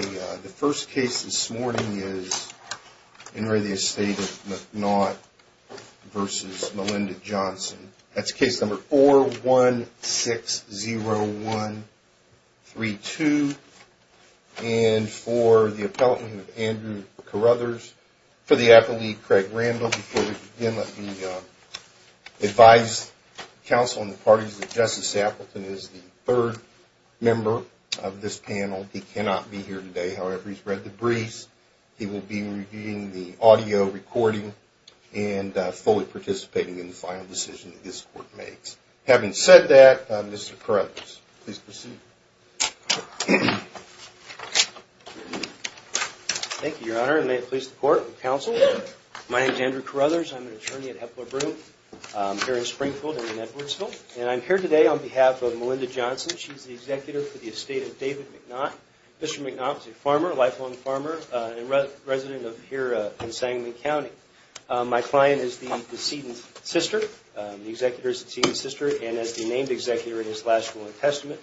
versus Melinda Johnson. That's case number four one six zero one three two. Okay, the first case this morning is In re Estate of McNaught versus Melinda Johnson. Okay, the first case this morning is In re Estate of McNaught versus Melinda Johnson. That's case number four one six zero one three two. And for the appellate Andrew Carruthers, for the appellate Craig Randall. Before we begin, let me advise counsel and the parties that Justice Appleton is the third member of this panel. He cannot be here today. However, he's read the briefs. He will be reviewing the audio recording and fully participating in the final decision that this court makes. Having said that, Mr. Carruthers, please proceed. Thank you, Your Honor, and may it please the court and counsel. My name is Andrew Carruthers. I'm an attorney at Hepler Broome here in Springfield and Edwardsville. And I'm here today on behalf of Melinda Johnson. She's the executor for the Estate of David McNaught. Mr. McNaught is a farmer, a lifelong farmer, and a resident of here in Sangamon County. My client is the decedent sister, the executor's decedent sister, and as the named executor in his last will and testament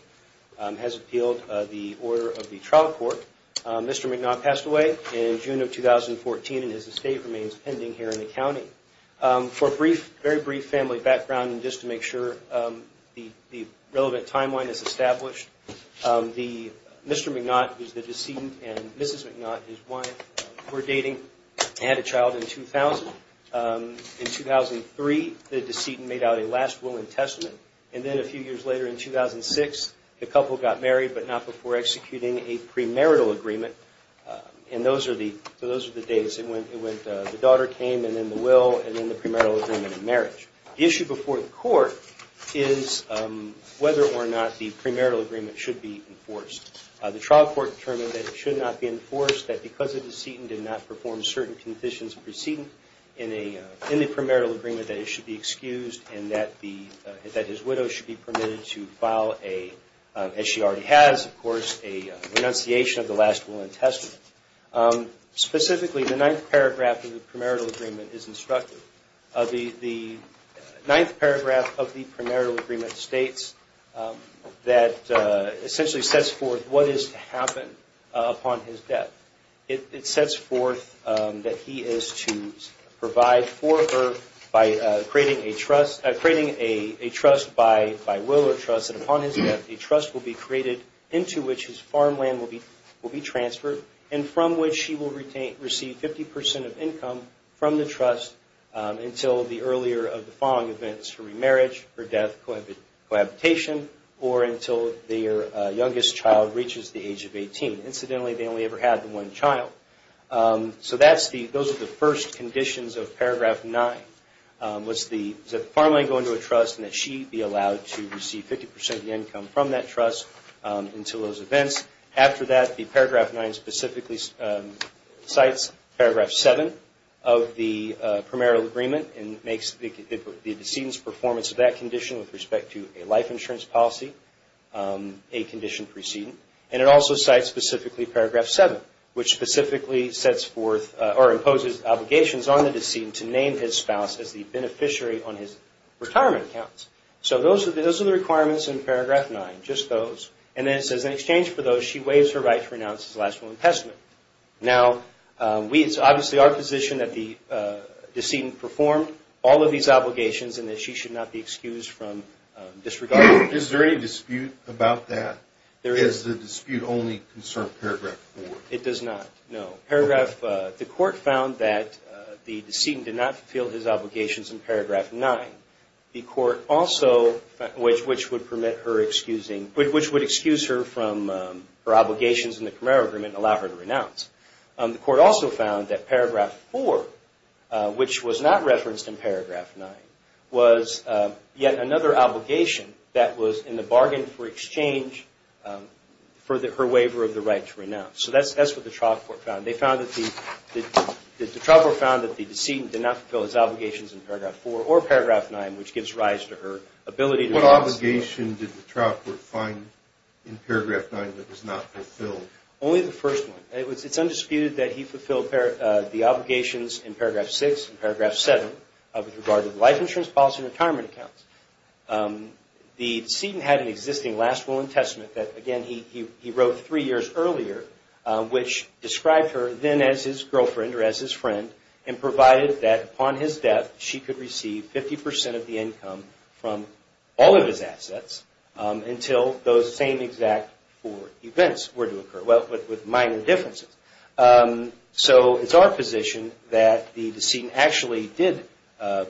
has appealed the order of the trial court. Mr. McNaught passed away in June of 2014, and his estate remains pending here in the county. For a brief, very brief family background, and just to make sure the relevant timeline is why we're dating, I had a child in 2000. In 2003, the decedent made out a last will and testament, and then a few years later in 2006, the couple got married, but not before executing a premarital agreement. And those are the dates. It went, the daughter came, and then the will, and then the premarital agreement and marriage. The issue before the court is whether or not the decedent did not perform certain conditions of precedence in the premarital agreement that it should be excused and that his widow should be permitted to file a, as she already has of course, a renunciation of the last will and testament. Specifically, the 9th paragraph of the premarital agreement is instructive. The 9th paragraph of the premarital agreement states that essentially sets forth what is to happen upon his death. It sets forth that he is to provide for her by creating a trust, creating a trust by will or trust, and upon his death, a trust will be created into which his farmland will be transferred, and from which she will receive 50% of income from the trust until the earlier of the remarriage, her death, cohabitation, or until their youngest child reaches the age of 18. Incidentally, they only ever had one child. So those are the first conditions of paragraph 9, was the farmland go into a trust and that she be allowed to receive 50% of the income from that trust until those events. After that, the paragraph 9 specifically cites paragraph 7 of the premarital agreement and makes the decedent's performance of that condition with respect to a life insurance policy a condition precedent, and it also cites specifically paragraph 7, which specifically sets forth or imposes obligations on the decedent to name his spouse as the beneficiary on his retirement accounts. So those are the requirements in paragraph 9, just those, and then it says in exchange for those, she waives her right to renounce his last will and testament. Now, it's obviously our position that the decedent perform all of these obligations and that she should not be excused from disregard. Is there any dispute about that? Is the dispute only concerned paragraph 4? It does not, no. The court found that the decedent did not fulfill his obligations in paragraph 9. The court also which would excuse her from her obligations in the premarital agreement and allow her to renounce. The court also found that paragraph 4, which was not referenced in paragraph 9, was yet another obligation that was in the bargain for exchange for her waiver of the right to renounce. So that's what the trial court found. They found that the trial court found that the decedent did not fulfill his obligations in paragraph 4 or paragraph 9, which gives rise to her ability to renounce. What obligation did the trial court find in paragraph 9 that was not fulfilled? Only the first one. It's undisputed that he fulfilled the obligations in paragraph 6 and paragraph 7 with regard to the life insurance policy and retirement accounts. The decedent had an existing last will and testament that, again, he wrote three years earlier, which described her then as his girlfriend or as his friend and provided that upon his death she could receive 50 percent of the income from all of his assets until those same exact four events were to occur with minor differences. So it's our position that the decedent actually did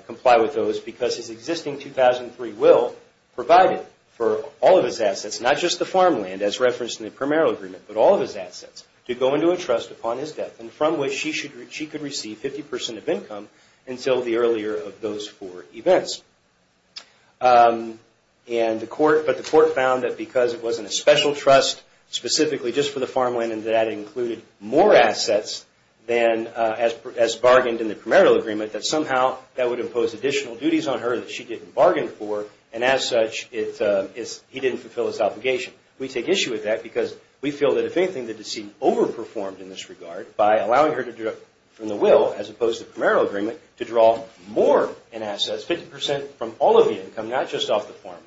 comply with those because his existing 2003 will provided for all of his assets, not just the farmland as referenced in the primarial agreement, but all of his assets, to go into a trust upon his death from which she could receive 50 percent of income until the earlier of those four events. But the court found that because it wasn't a special trust specifically just for the farmland and that included more assets as bargained in the primarial agreement, that somehow that would impose additional duties on her that she didn't bargain for and as such he didn't fulfill his obligation. We take issue with that because we feel that if anything the decedent overperformed in this regard by allowing her to deduct from the will as opposed to the primarial agreement to draw more in assets, 50 percent from all of the income, not just off the farmland.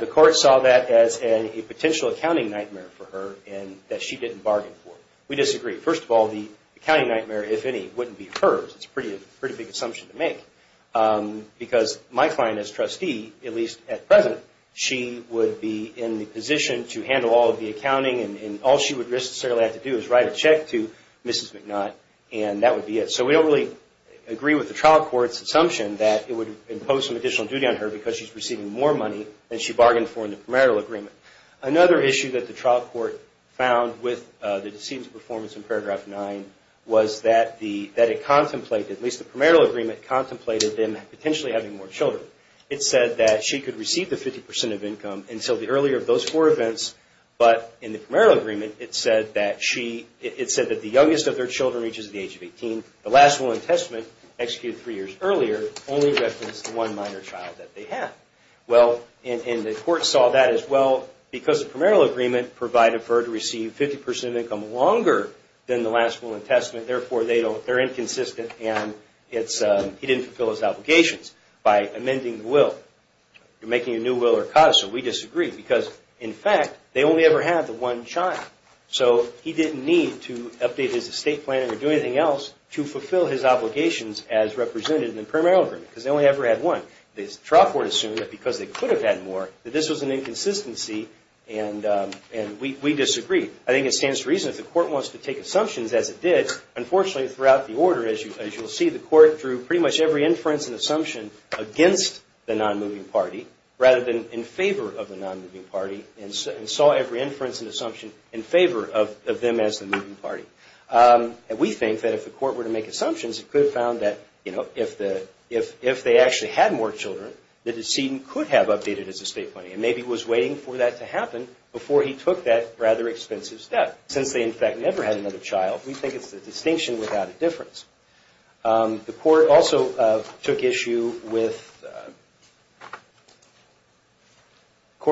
The court saw that as a potential accounting nightmare for her and that she didn't bargain for. We disagree. First of all, the accounting nightmare, if any, wouldn't be hers. It's a pretty big assumption to make because my client as trustee, at least at present, she would be in the position to handle all of the accounting and all she would necessarily have to do is write a check to Mrs. McNutt and that would be it. So we don't really agree with the trial court's assumption that it would impose some additional duty on her because she's receiving more money than she bargained for in the primarial agreement. Another issue that the trial court found with the decedent's performance in paragraph 9 was that it contemplated, at least the primarial agreement contemplated them potentially having more children. It said that she could receive the 50 percent of income until the earlier of those four events but in the primarial agreement it said that the youngest of their children reaches the age of 18. The last will and testament executed three years earlier only referenced the one minor child that they had. Well, and the court saw that as well because the primarial agreement provided for her to receive 50 percent of income longer than the last will and testament. Therefore, they're inconsistent and he didn't fulfill his obligations by amending the will. You're making a new will or cause so we disagree because, in fact, they only ever had the one child. So he didn't need to update his estate planning or do anything else to fulfill his obligations as represented in the primarial agreement because they only ever had one. The trial court assumed that because they could have had more that this was an inconsistency and we disagree. I think it stands to reason that the court wants to take assumptions as it did. Unfortunately, throughout the order, as you'll see, the court drew pretty much every inference and assumption against the non-moving party rather than in favor of the non-moving party and saw every inference and assumption in favor of them as the moving party. And we think that if the court were to make assumptions, it could have found that, you know, if they actually had more children, the decedent could have updated his estate planning and maybe was waiting for that to happen before he took that rather expensive step. Since they, in fact, never had another child, we think it's a distinction without a difference. The court also took issue with – the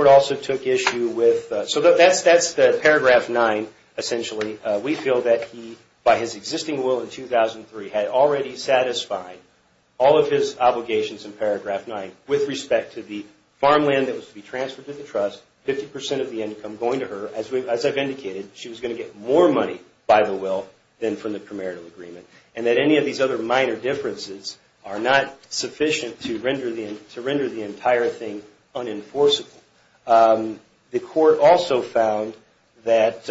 court also took issue with – so that's the paragraph 9, essentially. We feel that he, by his existing will in 2003, had already satisfied all of his obligations in paragraph 9 with respect to the farmland that was to be transferred to the trust, 50 percent of the income going to her. As I've indicated, she was going to get more money by the will than from the primarial agreement and that any of these other minor differences are not sufficient to render the entire thing unenforceable. The court also found that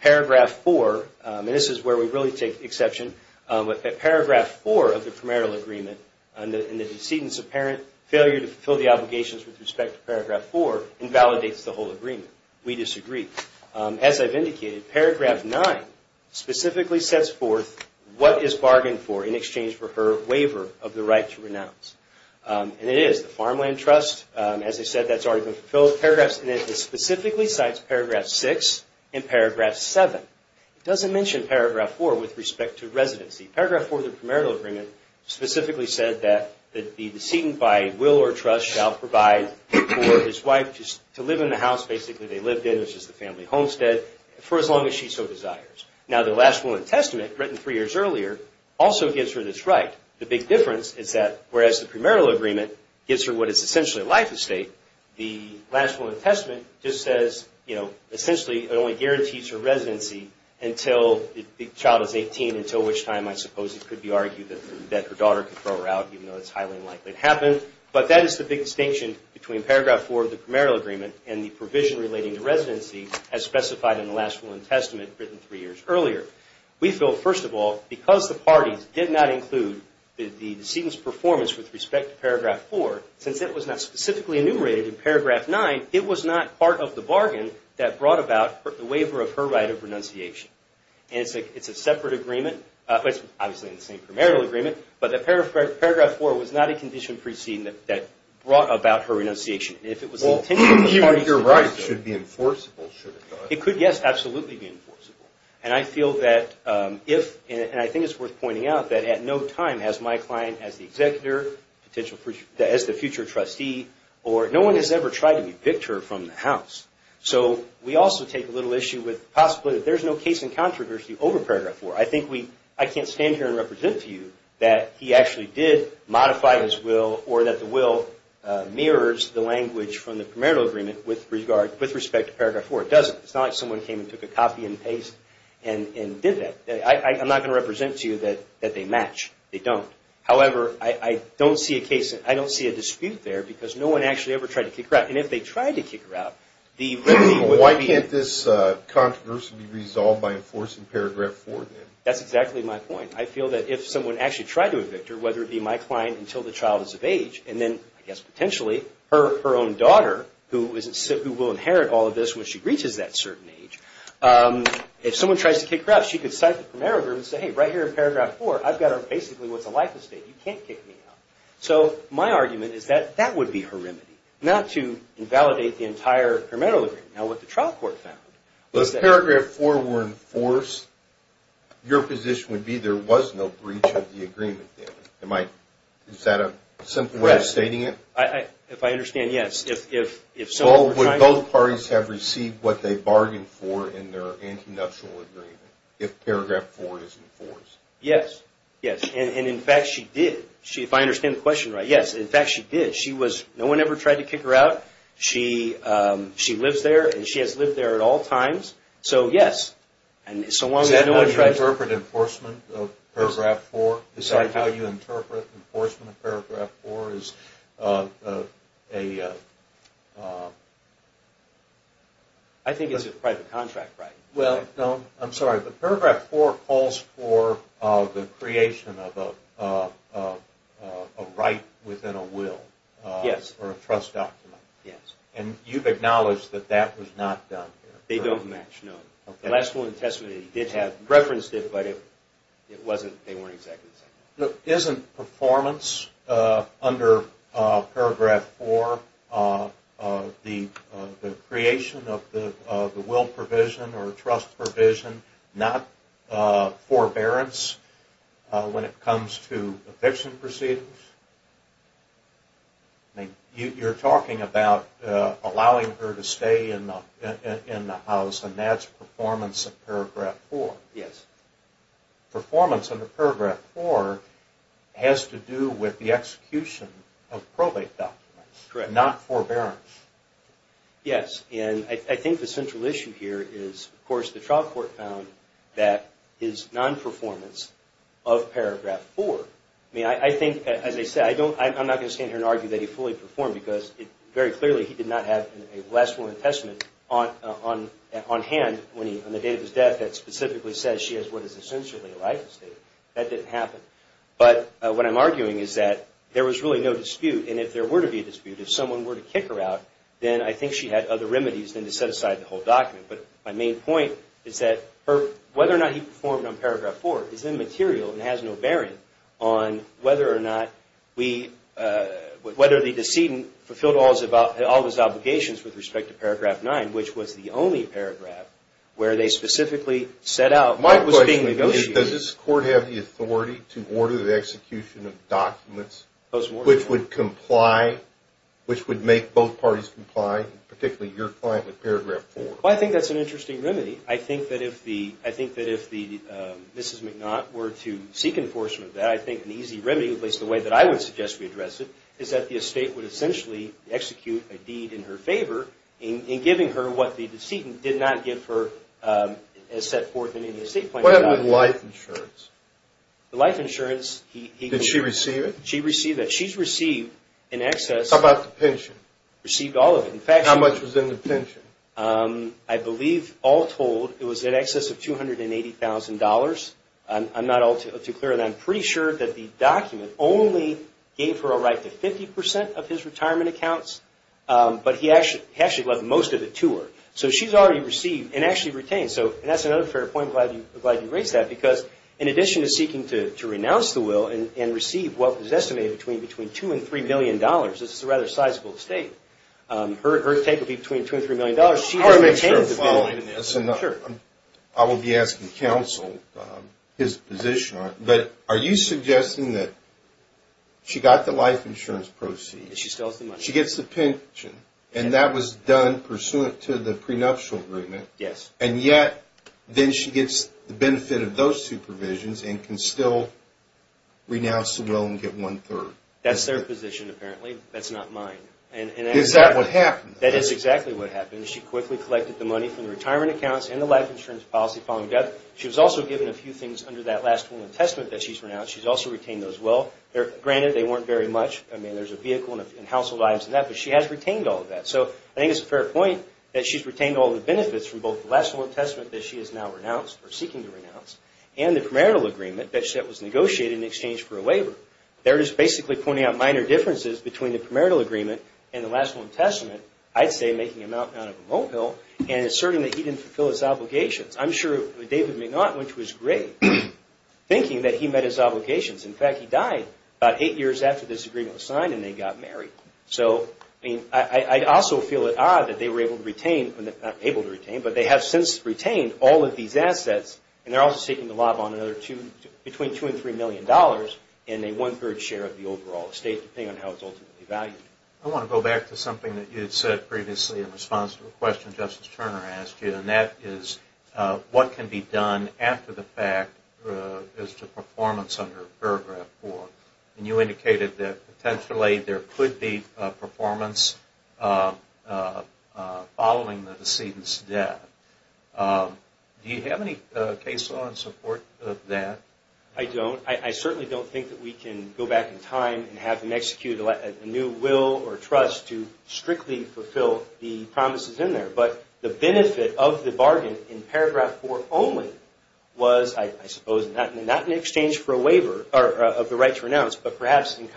paragraph 4 – and this is where we really take exception – that paragraph 4 of the primarial agreement in the decedent's apparent failure to fulfill the obligations with respect to paragraph 4 invalidates the whole agreement. We disagree. As I've indicated, paragraph 9 specifically sets forth what is bargained for in exchange for her waiver of the right to renounce. And it is the farmland trust. As I said, that's already been fulfilled. Paragraphs 9 specifically cites paragraph 6 and paragraph 7. It doesn't mention paragraph 4 with respect to residency. Paragraph 4 of the primarial agreement specifically said that the decedent by will or trust shall provide for his wife to live in the house basically they lived in, which is the family homestead, for as long as she so desires. Now, the last will and testament, written three years earlier, also gives her this right. The big difference is that whereas the primarial agreement gives her what is essentially a life estate, the last will and testament just says, you know, essentially it only guarantees her residency until the child is 18, until which time I suppose it could be argued that her daughter could throw her out, even though it's highly unlikely to happen. But that is the big distinction between paragraph 4 of the primarial agreement and the provision relating to residency as specified in the last will and testament written three years earlier. We feel, first of all, because the parties did not include the decedent's performance with respect to paragraph 4, since it was not specifically enumerated in paragraph 9, it was not part of the bargain that brought about the waiver of her right of renunciation. And it's a separate agreement. It's obviously in the same primarial agreement, but paragraph 4 was not a condition preceding that brought about her renunciation. Well, you're right. It should be enforceable, should it not? It could, yes, absolutely be enforceable. And I feel that if, and I think it's worth pointing out, that at no time has my client as the executor, as the future trustee, or no one has ever tried to evict her from the house. So we also take a little issue with possibly that there's no case in controversy over paragraph 4. I think we, I can't stand here and represent to you that he actually did modify his will or that the will mirrors the language from the primarial agreement with respect to paragraph 4. It doesn't. It's not like someone came and took a copy and paste and did that. I'm not going to represent to you that they match. They don't. However, I don't see a dispute there because no one actually ever tried to kick her out. And if they tried to kick her out, the remedy would be... Why can't this controversy be resolved by enforcing paragraph 4, then? That's exactly my point. I feel that if someone actually tried to evict her, whether it be my client until the child is of age, and then, I guess potentially, her own daughter, who will inherit all of this when she reaches that certain age, if someone tries to kick her out, she could cite the primarial agreement and say, invalidate the entire primarial agreement. Now, what the trial court found was that... If paragraph 4 were enforced, your position would be there was no breach of the agreement, then. Is that a simple way of stating it? If I understand, yes. Would both parties have received what they bargained for in their anti-nuptial agreement if paragraph 4 is enforced? Yes. And in fact, she did. If I understand the question right, yes. In fact, she did. No one ever tried to kick her out. She lives there, and she has lived there at all times. So, yes. Is that how you interpret enforcement of paragraph 4? Paragraph 4 is a... I think it's a private contract right. Paragraph 4 calls for the creation of a right within a will, or a trust document. Yes. And you've acknowledged that that was not done? They don't match, no. Isn't performance under paragraph 4, the creation of the will provision, or trust provision, not forbearance, when it comes to eviction proceedings? You're talking about allowing her to stay in the house, and that's performance under paragraph 4. Yes. Performance under paragraph 4 has to do with the execution of probate documents, not forbearance. Yes. And I think the central issue here is, of course, the trial court found that his non-performance of paragraph 4, I mean, I think, as I said, I'm not going to stand here and argue that he fully performed, because very clearly he did not have a Last Will and Testament on hand on the day of his death that specifically says she has what is essentially a life estate. That didn't happen. But what I'm arguing is that there was really no dispute, and if there were to be a dispute, if someone were to kick her out, then I think she had other performance under paragraph 4 is immaterial and has no bearing on whether or not the decedent fulfilled all of his obligations with respect to paragraph 9, which was the only paragraph where they specifically set out what was being negotiated. My question is, does this court have the authority to order the execution of documents which would comply, which would make both parties comply, particularly your That's an interesting remedy. I think that if Mrs. McNaught were to seek enforcement of that, I think an easy remedy, at least the way that I would suggest we address it, is that the estate would essentially execute a deed in her favor in giving her what the decedent did not give her as set forth in the estate plan. What happened with life insurance? The life insurance, he... Did she receive it? She received it. She's received in excess... We've all told it was in excess of $280,000. I'm not all too clear on that. I'm pretty sure that the document only gave her a right to 50% of his retirement accounts, but he actually left most of it to her. So she's already received and actually retained. And that's another fair point. I'm glad you raised that, because in addition to seeking to renounce the will and receive what was estimated between $2 and $3 million, this is a rather sizable estate. Her take would be between $2 and $3 million. I will be asking counsel his position on it, but are you suggesting that she got the life insurance proceeds, she gets the pension, and that was done pursuant to the prenuptial agreement, and yet then she gets the benefit of those two provisions and can still Is that what happened? That is exactly what happened. She quickly collected the money from the retirement accounts and the life insurance policy. She was also given a few things under that last will and testament that she's renounced. She's also retained those will. Granted, they weren't very much. I mean, there's a vehicle and household items and that, but she has retained all of that. So I think it's a fair point that she's retained all the benefits from both the last will and testament that she is now seeking to renounce and the premarital agreement that was in the last will and testament, I'd say making a mountain out of a molehill and asserting that he didn't fulfill his obligations. I'm sure David may not, which was great, thinking that he met his obligations. In fact, he died about eight years after this agreement was signed and they got married. I also feel it odd that they were able to retain, not able to retain, but they have since retained all of these assets and they're also seeking to lob on another between $2 and $3 million in a one-third share of the overall estate, depending on how it's ultimately valued. I want to go back to something that you said previously in response to a question Justice Turner asked you, and that is what can be done after the fact as to performance under Paragraph 4? And you indicated that potentially there could be performance following the decedent's death. Do you have any case law in support of that? I don't. I certainly don't think that we can go back in time and have them execute a new will or trust to strictly fulfill the promises in there. But the benefit of the bargain in Paragraph 4 only was, I suppose, not in exchange for a waiver of the right to renounce, but perhaps in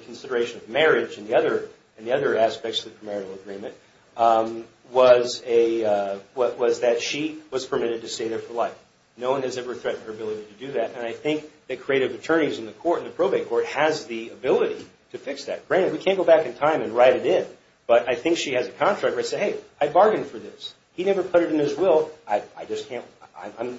consideration of marriage and the other aspects of the premarital agreement, was that she was permitted to stay there for life. No one has ever threatened her ability to do that, and I think that creative attorneys in the court, in the probate court, has the ability to fix that. Granted, we can't go back in time and write it in, but I think she has a contract where it says, hey, I bargained for this. He never put it in his will. I'm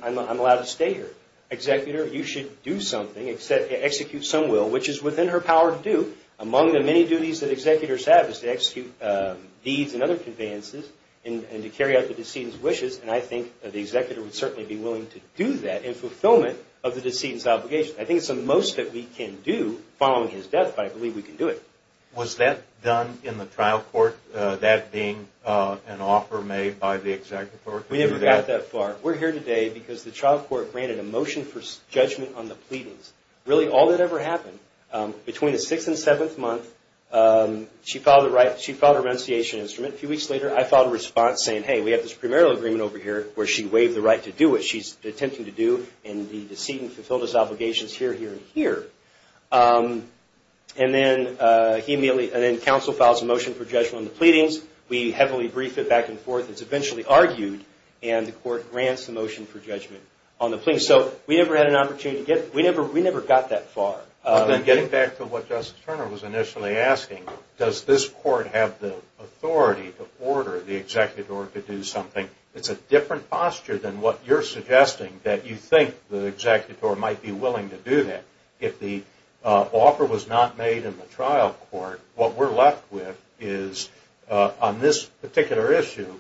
allowed to stay here. Executor, you should do something, execute some will, which is within her power to do. Among the many duties that executors have is to execute deeds and other conveyances and to carry out the decedent's wishes, and I think the executor would certainly be willing to do that in fulfillment of the decedent's obligation. I think it's the most that we can do following his death, but I believe we can do it. Was that done in the trial court, that being an offer made by the executor? We never got that far. We're here today because the trial court granted a motion for judgment on the pleadings. Really, all that ever happened. Between the 6th and 7th month, she filed her renunciation instrument. A few weeks later, I filed a response saying, hey, we have this primarial agreement over here where she waived the right to do what she's attempting to do, and the decedent fulfilled his obligations here, here, and here. And then he immediately, and then we have a motion for judgment on the pleadings. We heavily brief it back and forth. It's eventually argued, and the court grants the motion for judgment on the pleadings. So we never had an opportunity to get, we never got that far. Getting back to what Justice Turner was initially asking, does this court have the authority to order the executor to do something? It's a different posture than what you're suggesting, that you think the executor might be willing to do that. If the offer was not made in the trial court, what we're left with is on this particular issue,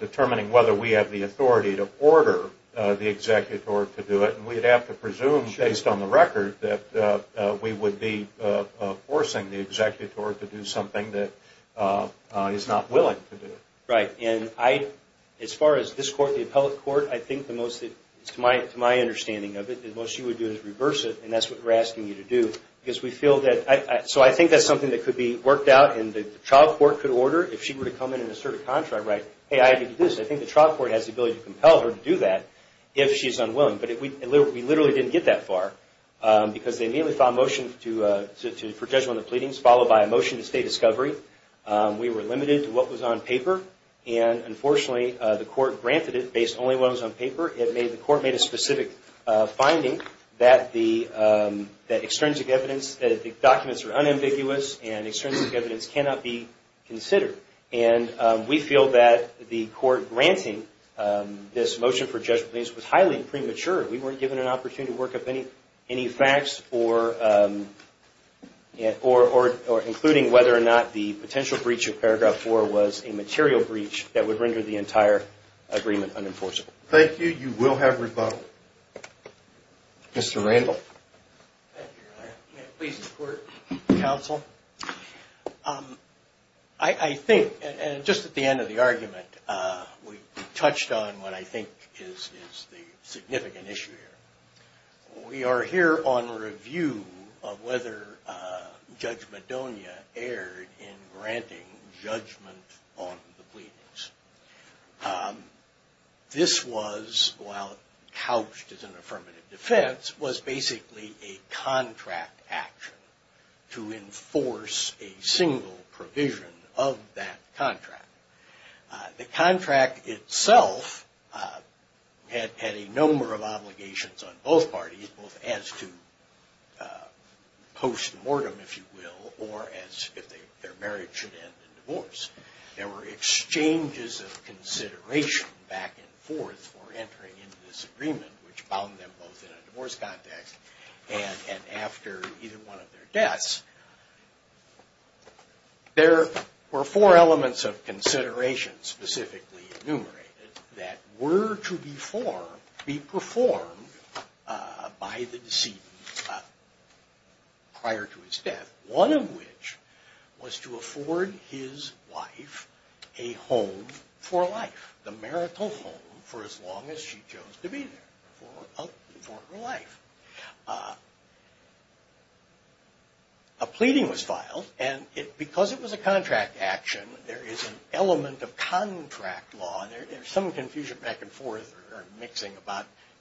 determining whether we have the authority to order the executor to do it. And we'd have to presume, based on the record, that we would be forcing the executor to do something that he's not willing to do. Right. And I, as far as this goes, and that's what we're asking you to do, because we feel that, so I think that's something that could be worked out and the trial court could order, if she were to come in and assert a contract right, hey, I can do this. I think the trial court has the ability to compel her to do that if she's unwilling. But we literally didn't get that far. Because they immediately filed a motion for judgment on the pleadings, followed by a motion to stay discovery. We were limited to what was on paper. And unfortunately, the court made a specific finding that the documents are unambiguous and extrinsic evidence cannot be considered. And we feel that the court granting this motion for judgment was highly premature. We weren't given an opportunity to work up any facts or including whether or not the potential breach of Paragraph 4 was a breach of Paragraph 4. Mr. Randall. Please support, counsel. I think, and just at the end of the argument, we touched on what I think is the significant issue here. We are here on review of whether Judge Madonia erred in granting judgment on the Paragraph 4. The Paragraph 4 that was couched as an affirmative defense was basically a contract action to enforce a single provision of that contract. The contract itself had a number of obligations on both parties, both as to postmortem, if you will, or as if their marriage should end in divorce. There were exchanges of consideration back and forth for entering into this agreement, which bound them both in a divorce context and after either one of their deaths. There were four elements of consideration specifically enumerated that were to be performed by the decedent prior to his death, one of which was to afford his wife a home for life, the marital home for as long as she chose to be there for her life. A pleading was filed and because it was a contract action, there is an element of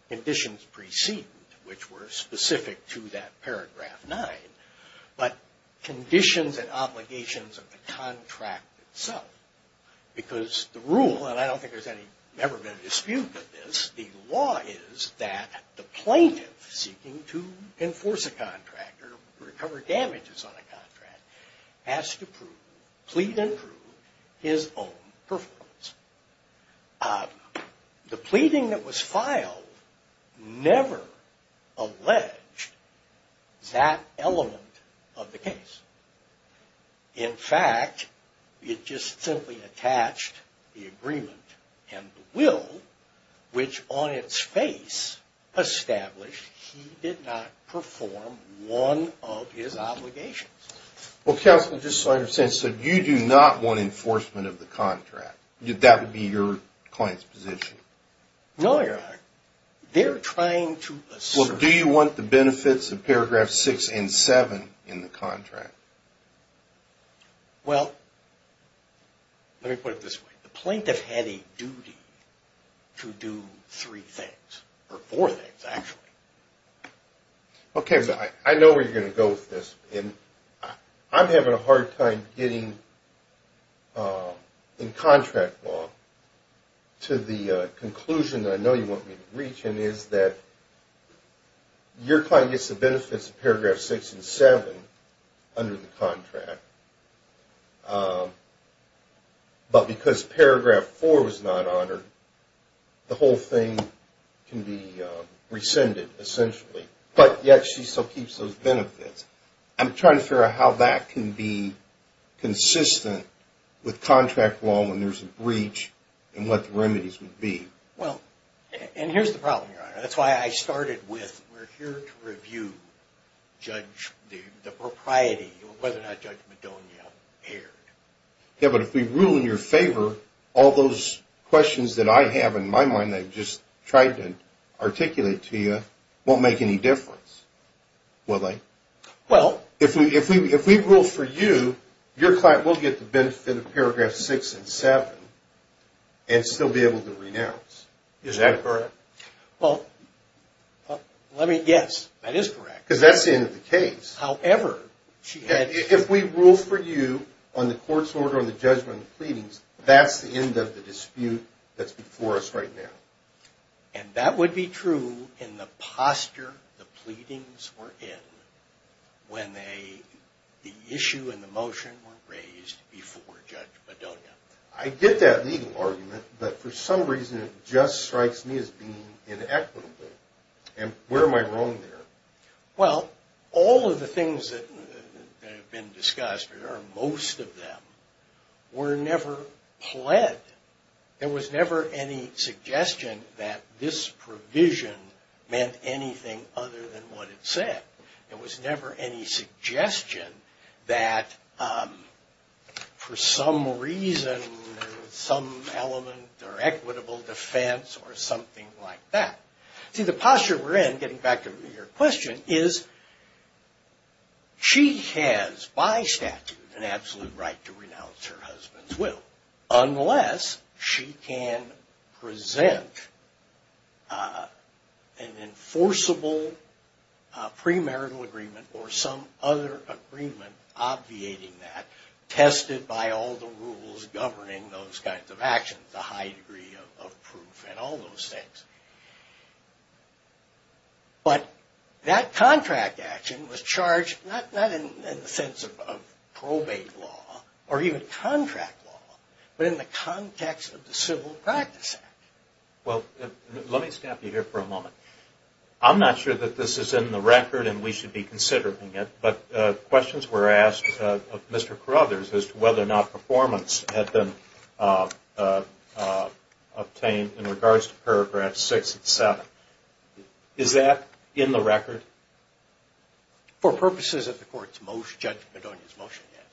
conditions preceded, which were specific to that Paragraph 9, but conditions and obligations of the contract itself. Because the rule, and I don't think there's ever been a dispute with this, the law is that the plaintiff seeking to enforce a contract or recover damages on a contract has to prove, plead and prove, his own performance. The pleading that was filed never alleged that element of the case. In fact, it just simply attached the agreement and the will, which on its face established he did not perform one of his obligations. Well, Counselor, just so I understand, so you do not want enforcement of the contract? That would be your client's position? No, Your Honor. Well, do you want the benefits of Paragraphs 6 and 7 in the contract? Well, let me put it this way. The plaintiff had a duty to do three things, or four things actually. Okay, I know where you're going to go with this. I'm having a hard time getting in contract law to the conclusion that I know you want me to reach, and is that your client gets the benefits of Paragraph 6 and 7 under the contract, but because Paragraph 4 was not honored, the whole thing can be rescinded essentially, but yet she still keeps those benefits. I'm trying to figure out how that can be consistent with contract law when there's a breach and what the remedies would be. Well, and here's the problem, Your Honor. That's why I started with, we're here to review the propriety, whether or not Judge Madonia erred. Yeah, but if we rule in your favor, all those questions that I have in my mind that I've just tried to articulate to you won't make any difference, will they? Well... If we rule for you, your client will get the benefit of Paragraphs 6 and 7 and still be able to renounce. Is that correct? Well, let me, yes, that is correct. Because that's the end of the case. However, she had... If we rule for you on the court's order on the judgment of the pleadings, that's the end of the dispute that's before us right now. And that would be true in the posture the pleadings were in when the issue and the motion were raised before Judge Madonia. I get that legal argument, but for some reason it just strikes me as being inequitable. And where am I wrong there? Well, all of the things that have been discussed, or most of them, were never pled. There was never any suggestion that this provision meant anything other than what it said. There was never any some element or equitable defense or something like that. See, the posture we're in, getting back to your question, is she has, by statute, an absolute right to renounce her husband's will unless she can present an enforceable premarital agreement or some other agreement obviating that, tested by all the rules governing those kinds of actions, the high degree of proof and all those things. But that contract action was charged not in the sense of probate law or even contract law, but in the context of the Civil Practice Act. Well, let me stop you here for a moment. I'm not sure that this is in the record and we should be considering it, but questions were asked of Mr. Carothers as to whether or not performance had been obtained in regards to paragraphs 6 and 7. Is that in the record? For purposes of the Court's motion, Judge Madonia's motion, yes.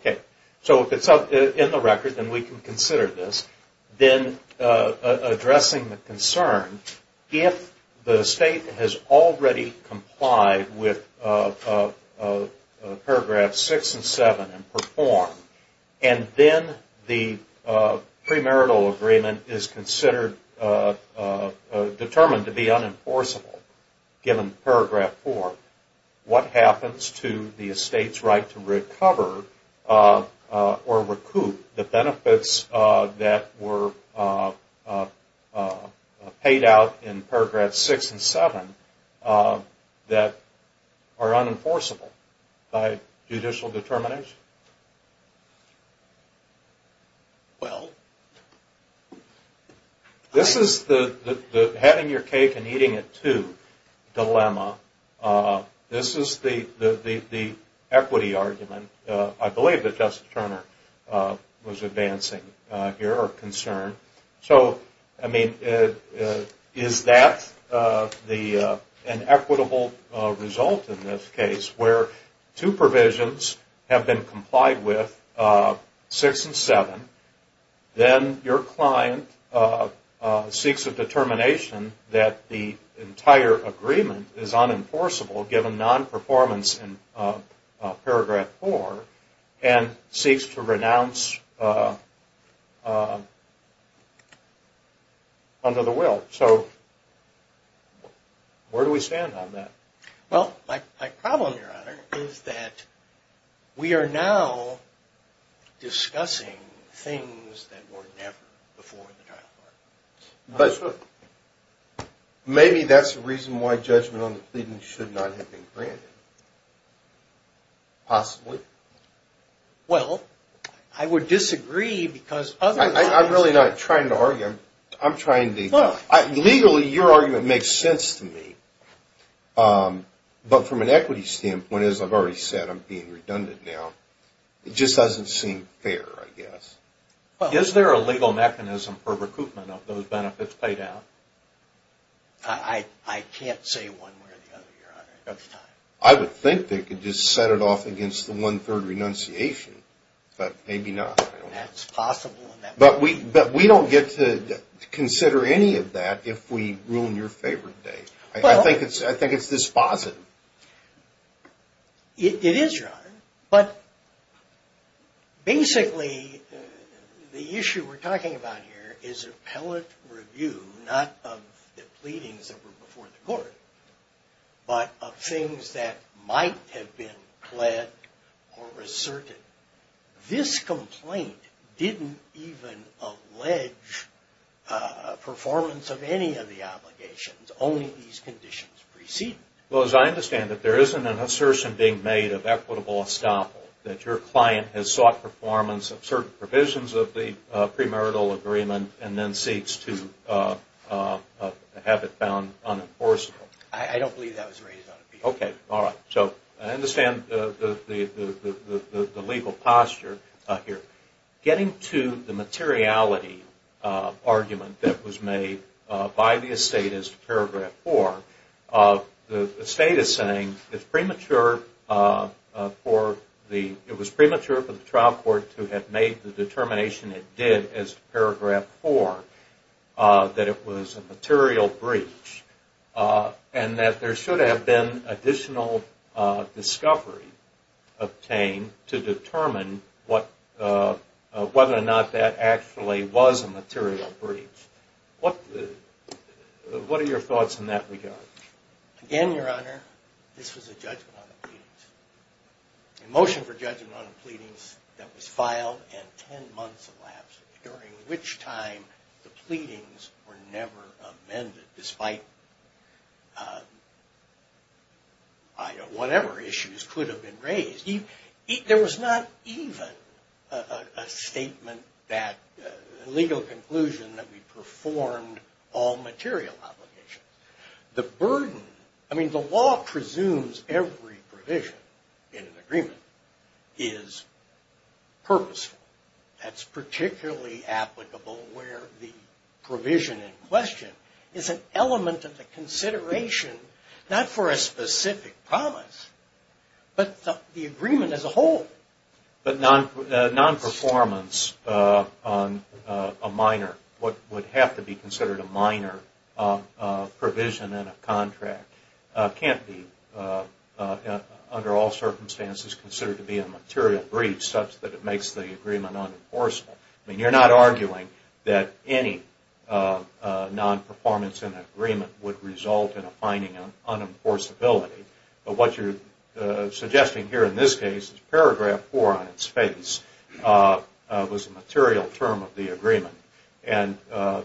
Okay. So if it's in the record, then we can consider this. Then, addressing the concern, if the State has already complied with paragraphs 6 and 7 and performed, and then the premarital agreement is determined to be unenforceable given paragraph 4, what happens to the State's right to recover or recoup the benefits that were paid out in paragraphs 6 and 7 that are unenforceable by judicial determination? Well, this is the having your cake and eating it too dilemma. This is the equity argument. I believe that Justice Turner was advancing here, or concerned. So, I mean, is that an if two provisions have been complied with, 6 and 7, then your client seeks a determination that the entire agreement is unenforceable given non-performance in paragraph 4 and seeks to renounce under the will. So, where do we stand on that? Well, my problem, Your Honor, is that we are now discussing things that were never before in the trial. Maybe that's the reason why judgment on the pleadings should not have been granted. Possibly. Well, I would disagree because otherwise... I'm really not trying to argue. Legally, your argument makes sense to me. But from an equity standpoint, as I've already said, I'm being redundant now. It just doesn't seem fair, I guess. Is there a legal mechanism for recoupment of those benefits paid out? I can't say one way or the other, Your Honor. I would think they could just set it off against the one-third renunciation, but maybe not. That's possible. But we don't get to consider any of that if we ruin your favorite day. I think it's dispositive. It is, Your Honor, but basically the issue we're talking about here is appellate review, not of the pleadings that were before the court, but of things that might have been pled or asserted. This complaint didn't even allege performance of any of the obligations, only these conditions preceded it. Well, as I understand it, there isn't an assertion being made of equitable estoppel that your client has sought performance of certain provisions of the premarital agreement and then seeks to have it found unenforceable. I don't believe that was raised on appeal. Okay. All right. So I understand the legal posture here. Getting to the materiality argument that was made by the estate as to Paragraph 4, the estate is saying it's premature for the trial court to have made the determination it did as to Paragraph 4 that it was a material breach and that there should have been additional discovery obtained to determine whether or not that actually was a material breach. What are your thoughts in that regard? Again, Your Honor, this was a judgment on the pleadings. A motion for judgment on the pleadings that was filed and 10 months elapsed, during which time the pleadings were never amended, despite whatever issues could have been raised. There was not even a statement that legal conclusion that we performed all material obligations. The burden, I mean the law presumes every provision in an agreement is purposeful. That's particularly applicable where the provision in question is an element of the consideration, not for a specific promise, but the agreement as a whole. But non-performance on a minor, what would have to be considered a minor provision in a contract can't be under all circumstances considered to be a material breach such that it makes the agreement unenforceable. You're not arguing that any non-performance in an agreement would result in a finding of unenforceability. But what you're suggesting here in this case is Paragraph 4 on its face was a material term of the agreement. The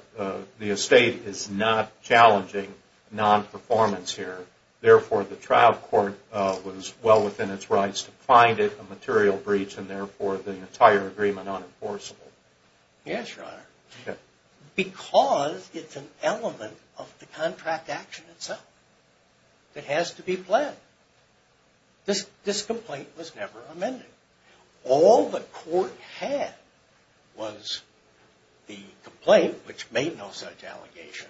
estate is not challenging non-performance here. Therefore, the trial court was well within its rights to find it a material breach and therefore the entire agreement unenforceable. Yes, Your Honor. Because it's an element of the contract action itself that has to be planned. This complaint was never amended. All the court had was the complaint, which made no such allegation,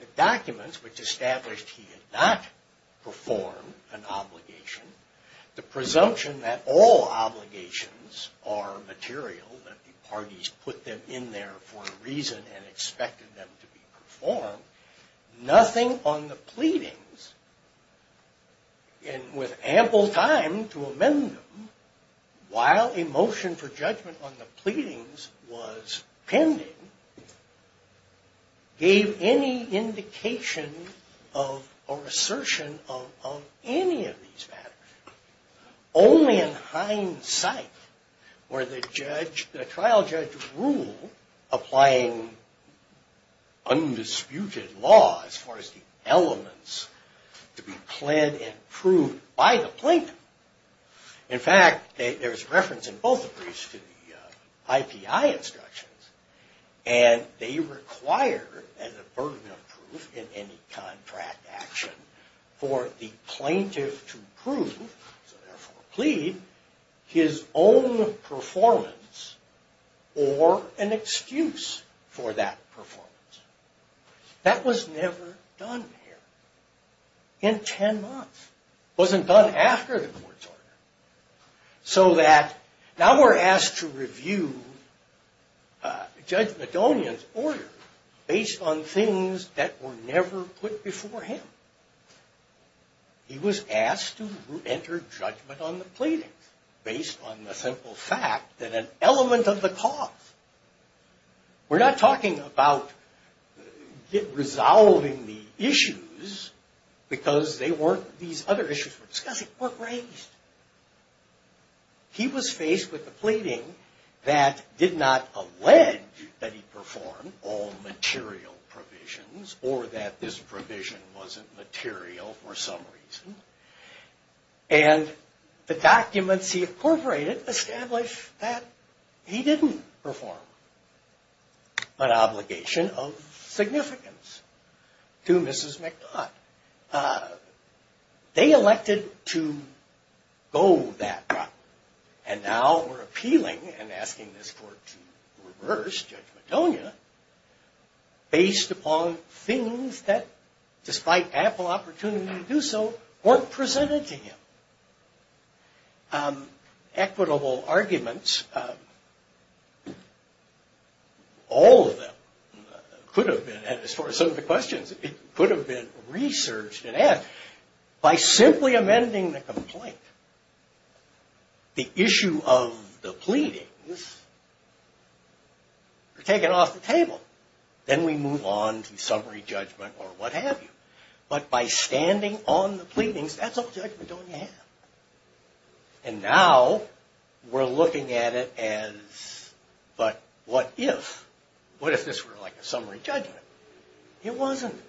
the documents, which established he had not performed an obligation, the presumption that all obligations are material, that the parties put them in there for a reason and expected them to be performed. Nothing on the pleadings, and with ample time to pending, gave any indication or assertion of any of these matters. Only in hindsight were the trial judge rule applying undisputed law as far as the elements to be pled and proved by the plaintiff. In fact, there's reference in both briefs to the IPI instructions and they require as a burden of proof in any contract action for the plaintiff to prove, therefore plead, his own performance or an excuse for that performance. That was never done here in ten months. It wasn't done after the court's order. So that now we're asked to review Judge Madonian's order based on things that were never put before him. He was asked to enter judgment on the pleadings based on the simple fact that an element of the cause, we're not talking about resolving the issues because they weren't these other issues we're discussing, were raised. He was faced with the pleading that did not allege that he performed all material provisions or that this provision wasn't material for some reason, and the documents he incorporated established that he didn't perform an obligation of significance to Mrs. McDodd. They elected to go that route and now we're appealing and asking this court to reverse Judge Madonia based upon things that despite ample opportunity to do so, weren't presented to him. Equitable arguments, all of them could have been, and as far as some of the questions, it could have been researched and asked by simply amending the complaint. The issue of the pleadings were taken off the table. Then we move on to summary judgment or what have you. But by standing on the pleadings, that's all Judge Madonia had. And now we're looking at it as but what if? What if this were like a summary judgment? It wasn't.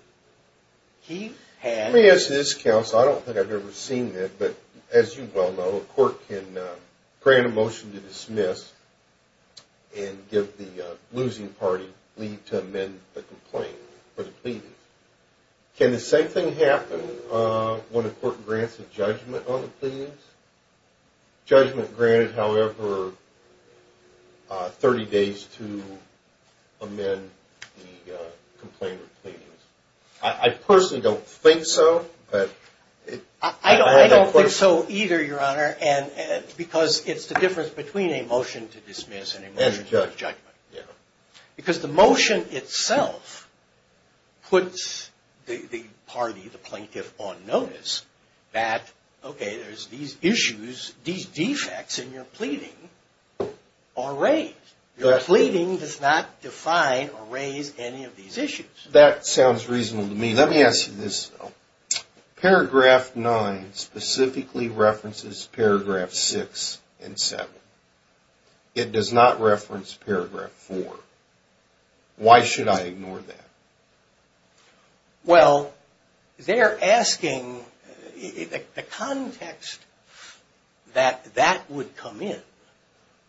He had... Let me ask this counsel, I don't think I've ever seen it, but as you well know, a court can grant a motion to dismiss and give the losing party leave to amend the complaint for the pleadings. Can the same thing happen when a court grants a judgment on the pleadings? Judgment granted, however, 30 days to amend the complaint or pleadings. I personally don't think so. I don't think so either, Your Honor, because it's the difference between a motion to dismiss and a motion to judgment. Because the motion itself puts the party, the plaintiff, on notice that, okay, there's these issues, these defects in your pleading are raised. Your pleading does not define or raise any of these issues. That sounds reasonable to me. Let me ask you this, though. Paragraph 9 specifically references paragraph 6 and 7. It does not reference paragraph 4. Why should I ignore that? Well, they're asking, the context that that would come in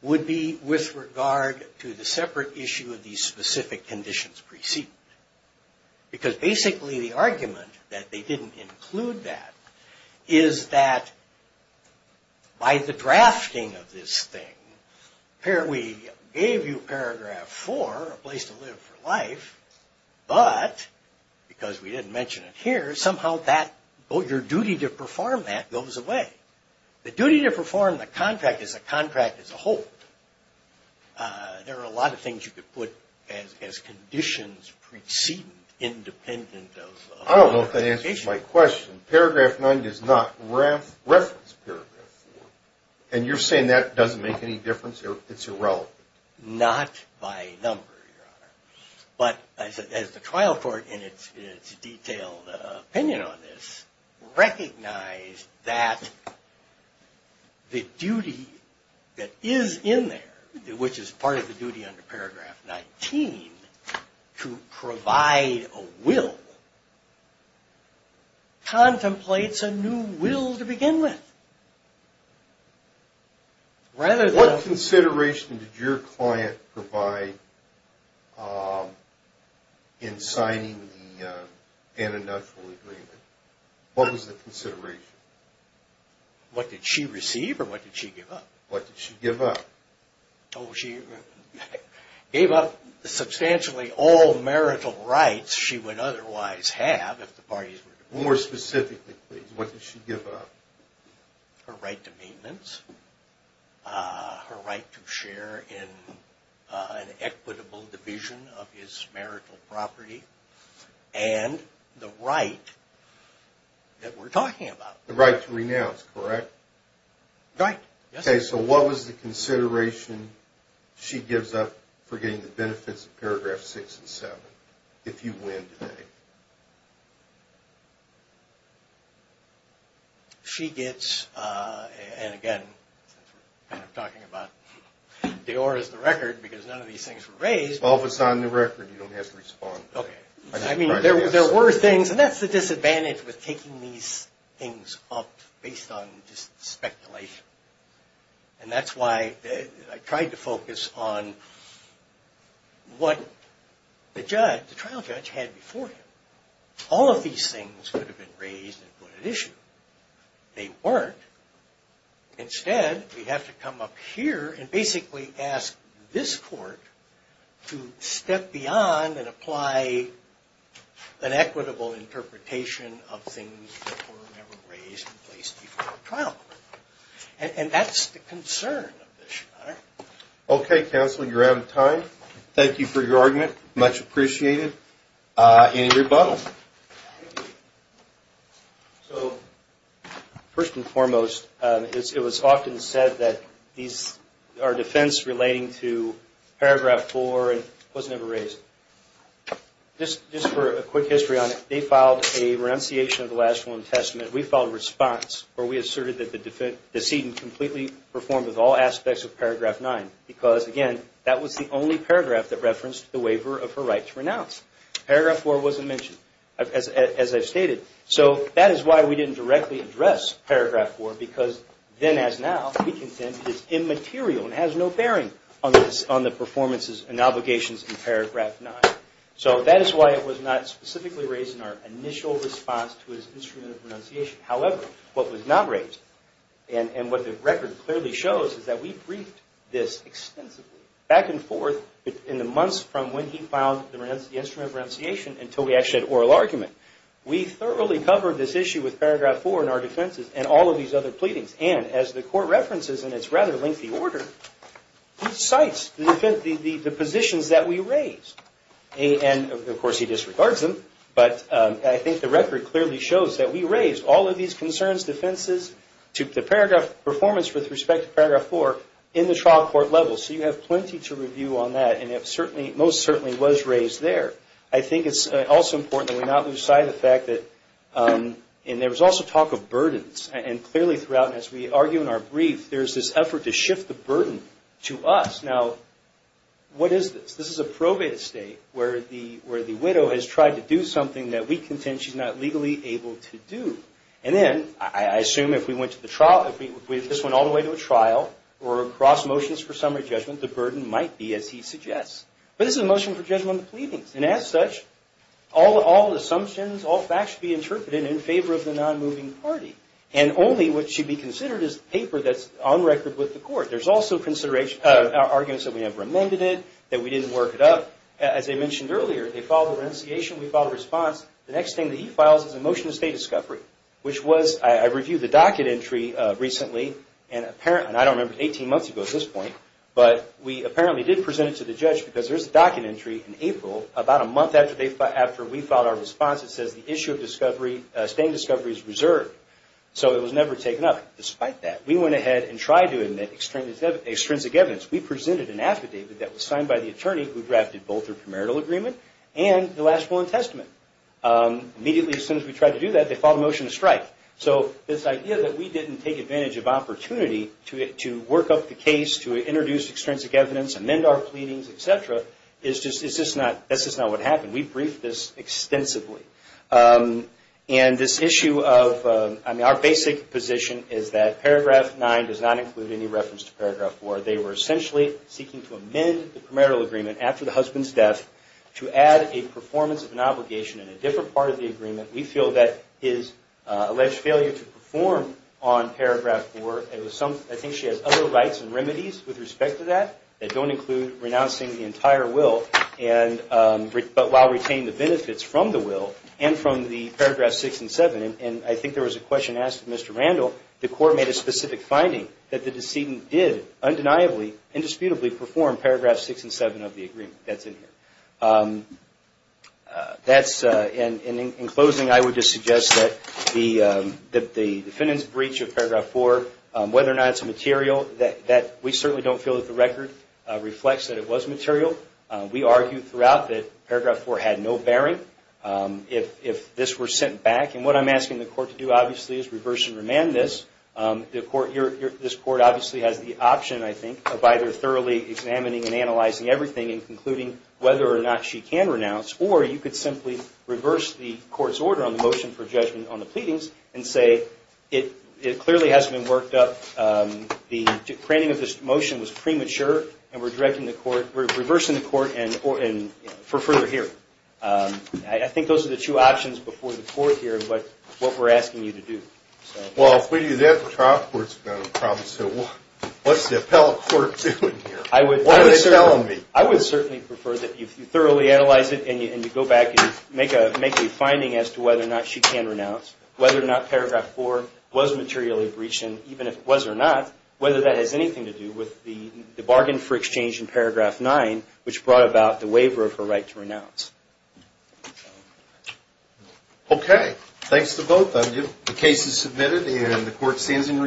would be with regard to the separate issue of these specific conditions preceded. Because basically the argument that they didn't include that is that by the drafting of this thing, we gave you paragraph 4, a place to live for life, but because we didn't mention it here, somehow your duty to perform that goes away. The duty to perform the contract is a contract as a whole. There are a lot of things you could put as conditions preceding independent of clarification. I don't know if that answers my question. Paragraph 9 does not reference paragraph 4. And you're saying that doesn't make any difference? It's irrelevant? Not by number, Your Honor. But as the trial court in its detailed opinion on this recognized that the duty that is in there, which is part of the duty under paragraph 19 to provide a will contemplates a new will to begin with. Rather than... What consideration did your client provide in signing the antinatural agreement? What was the consideration? What did she receive or what did she give up? What did she give up? She gave up substantially all marital rights she would otherwise have if the parties were to... More specifically, please, what did she give up? Her right to maintenance, her right to share in an equitable division of his marital property, and the right that we're talking about. The right to renounce, correct? Right. Okay, so what was the consideration she gave up? She gets, and again, since we're kind of talking about Dior as the record, because none of these things were raised... Well, if it's not in the record, you don't have to respond. I mean, there were things, and that's the disadvantage with taking these things up based on just speculation. And that's why I tried to focus on what the trial judge had before him. All of these things could have been raised and put at issue. They weren't. Instead, we have to come up here and basically ask this court to step beyond and apply an equitable interpretation of things that were raised and put at issue. Okay, counsel, you're out of time. Thank you for your argument. Much appreciated. Any rebuttals? First and foremost, it was often said that our defense relating to paragraph 4 was never raised. Just for a quick history on it, they filed a renunciation of the last one testament. We filed a response where we asserted that the decedent completely performed with all aspects of paragraph 9, because again, that was the only paragraph that referenced the waiver of her right to renounce. Paragraph 4 wasn't mentioned, as I've stated. So that is why we didn't directly address paragraph 4, because then as now, we contend it's immaterial and has no bearing on the performances and obligations in paragraph 9. So that is why it was not specifically raised in our initial response to his instrument of renunciation. However, what was not raised, and what the record clearly shows, is that we briefed this extensively, back and forth, in the months from when he filed the instrument of renunciation until we actually had oral argument. We thoroughly covered this issue with paragraph 4 in our defenses and all of these other pleadings. And as the court references in its rather lengthy order, he cites the positions that we raised. And of course he disregards them, but I think the record clearly shows that we raised all of these concerns, defenses, the performance with respect to paragraph 4, in the trial court level. So you have plenty to review on that, and it most certainly was raised there. I think it's also important that we not lose sight of the fact that, and there was also talk of burdens. And clearly throughout, as we argue in our brief, there's this effort to shift the burden to us. Now, what is this? This is a probate state where the widow has tried to do something that we contend she's not legally able to do. And then, I assume if this went all the way to a trial, or across motions for summary judgment, the burden might be, as he suggests. But this is a motion for judgment of pleadings. And as such, all assumptions, all facts should be interpreted in favor of the non-moving party. And only what should be considered as paper that's on record with the court. There's also arguments that we never amended it, that we didn't work it up. As I mentioned earlier, they filed a renunciation, we filed a response. The next thing that he files is a motion to stay discovery. Which was, I reviewed the docket entry recently, and I don't remember, 18 months ago at this point. But we apparently did present it to the judge, because there's a docket entry in April, about a month after we filed our response that says the issue of discovery, staying discovery is reserved. So it was never taken up. Despite that, we went ahead and tried to admit extrinsic evidence. We presented an affidavit that was signed by the attorney who drafted both the premarital agreement and the last will and testament. Immediately, as soon as we tried to do that, they filed a motion to strike. So this idea that we didn't take advantage of opportunity to work up the case, to introduce extrinsic evidence, amend our pleadings, et cetera, that's just not what happened. We briefed this extensively. Our basic position is that paragraph 9 does not include any reference to paragraph 4. They were essentially seeking to amend the premarital agreement after the husband's death to add a performance of an obligation in a different part of the agreement. We feel that his alleged failure to perform on paragraph 4, I think she has other rights and remedies with respect to that that don't include renouncing the entire will, but while retaining the benefits from the will and from the paragraph 6 and 7. And I think there was a question asked of Mr. Randall. The court made a specific finding that the decedent did undeniably, indisputably perform paragraph 6 and 7 of the agreement that's in here. And in closing, I would just suggest that the defendant's breach of paragraph 4, whether or not it's material, that we certainly don't feel that the record reflects that it was material. We argued throughout that paragraph 4 had no bearing. If this were sent back, and what I'm asking the court to do, obviously, is reverse and remand this. This court obviously has the option, I think, of either thoroughly examining and analyzing everything and concluding whether or not she can renounce, or you could simply reverse the court's order on the motion for judgment on the pleadings and say, it clearly hasn't been worked up. The planning of this motion was premature, and we're directing the court, we're reversing the court for further hearing. I think those are the two options before the court here, but what we're asking you to do. Well, if we do that, the trial court's going to have a problem, so what's the appellate court doing here? What are they telling me? I would certainly prefer that you thoroughly analyze it and you go back and make a finding as to whether or not she can renounce, whether or not paragraph 4 was materially breached, and even if it was or not, whether that has anything to do with the bargain for exchange in paragraph 9, which brought about the waiver of her right to renounce. Okay, thanks to both of you. The case is submitted and the court stands in recess.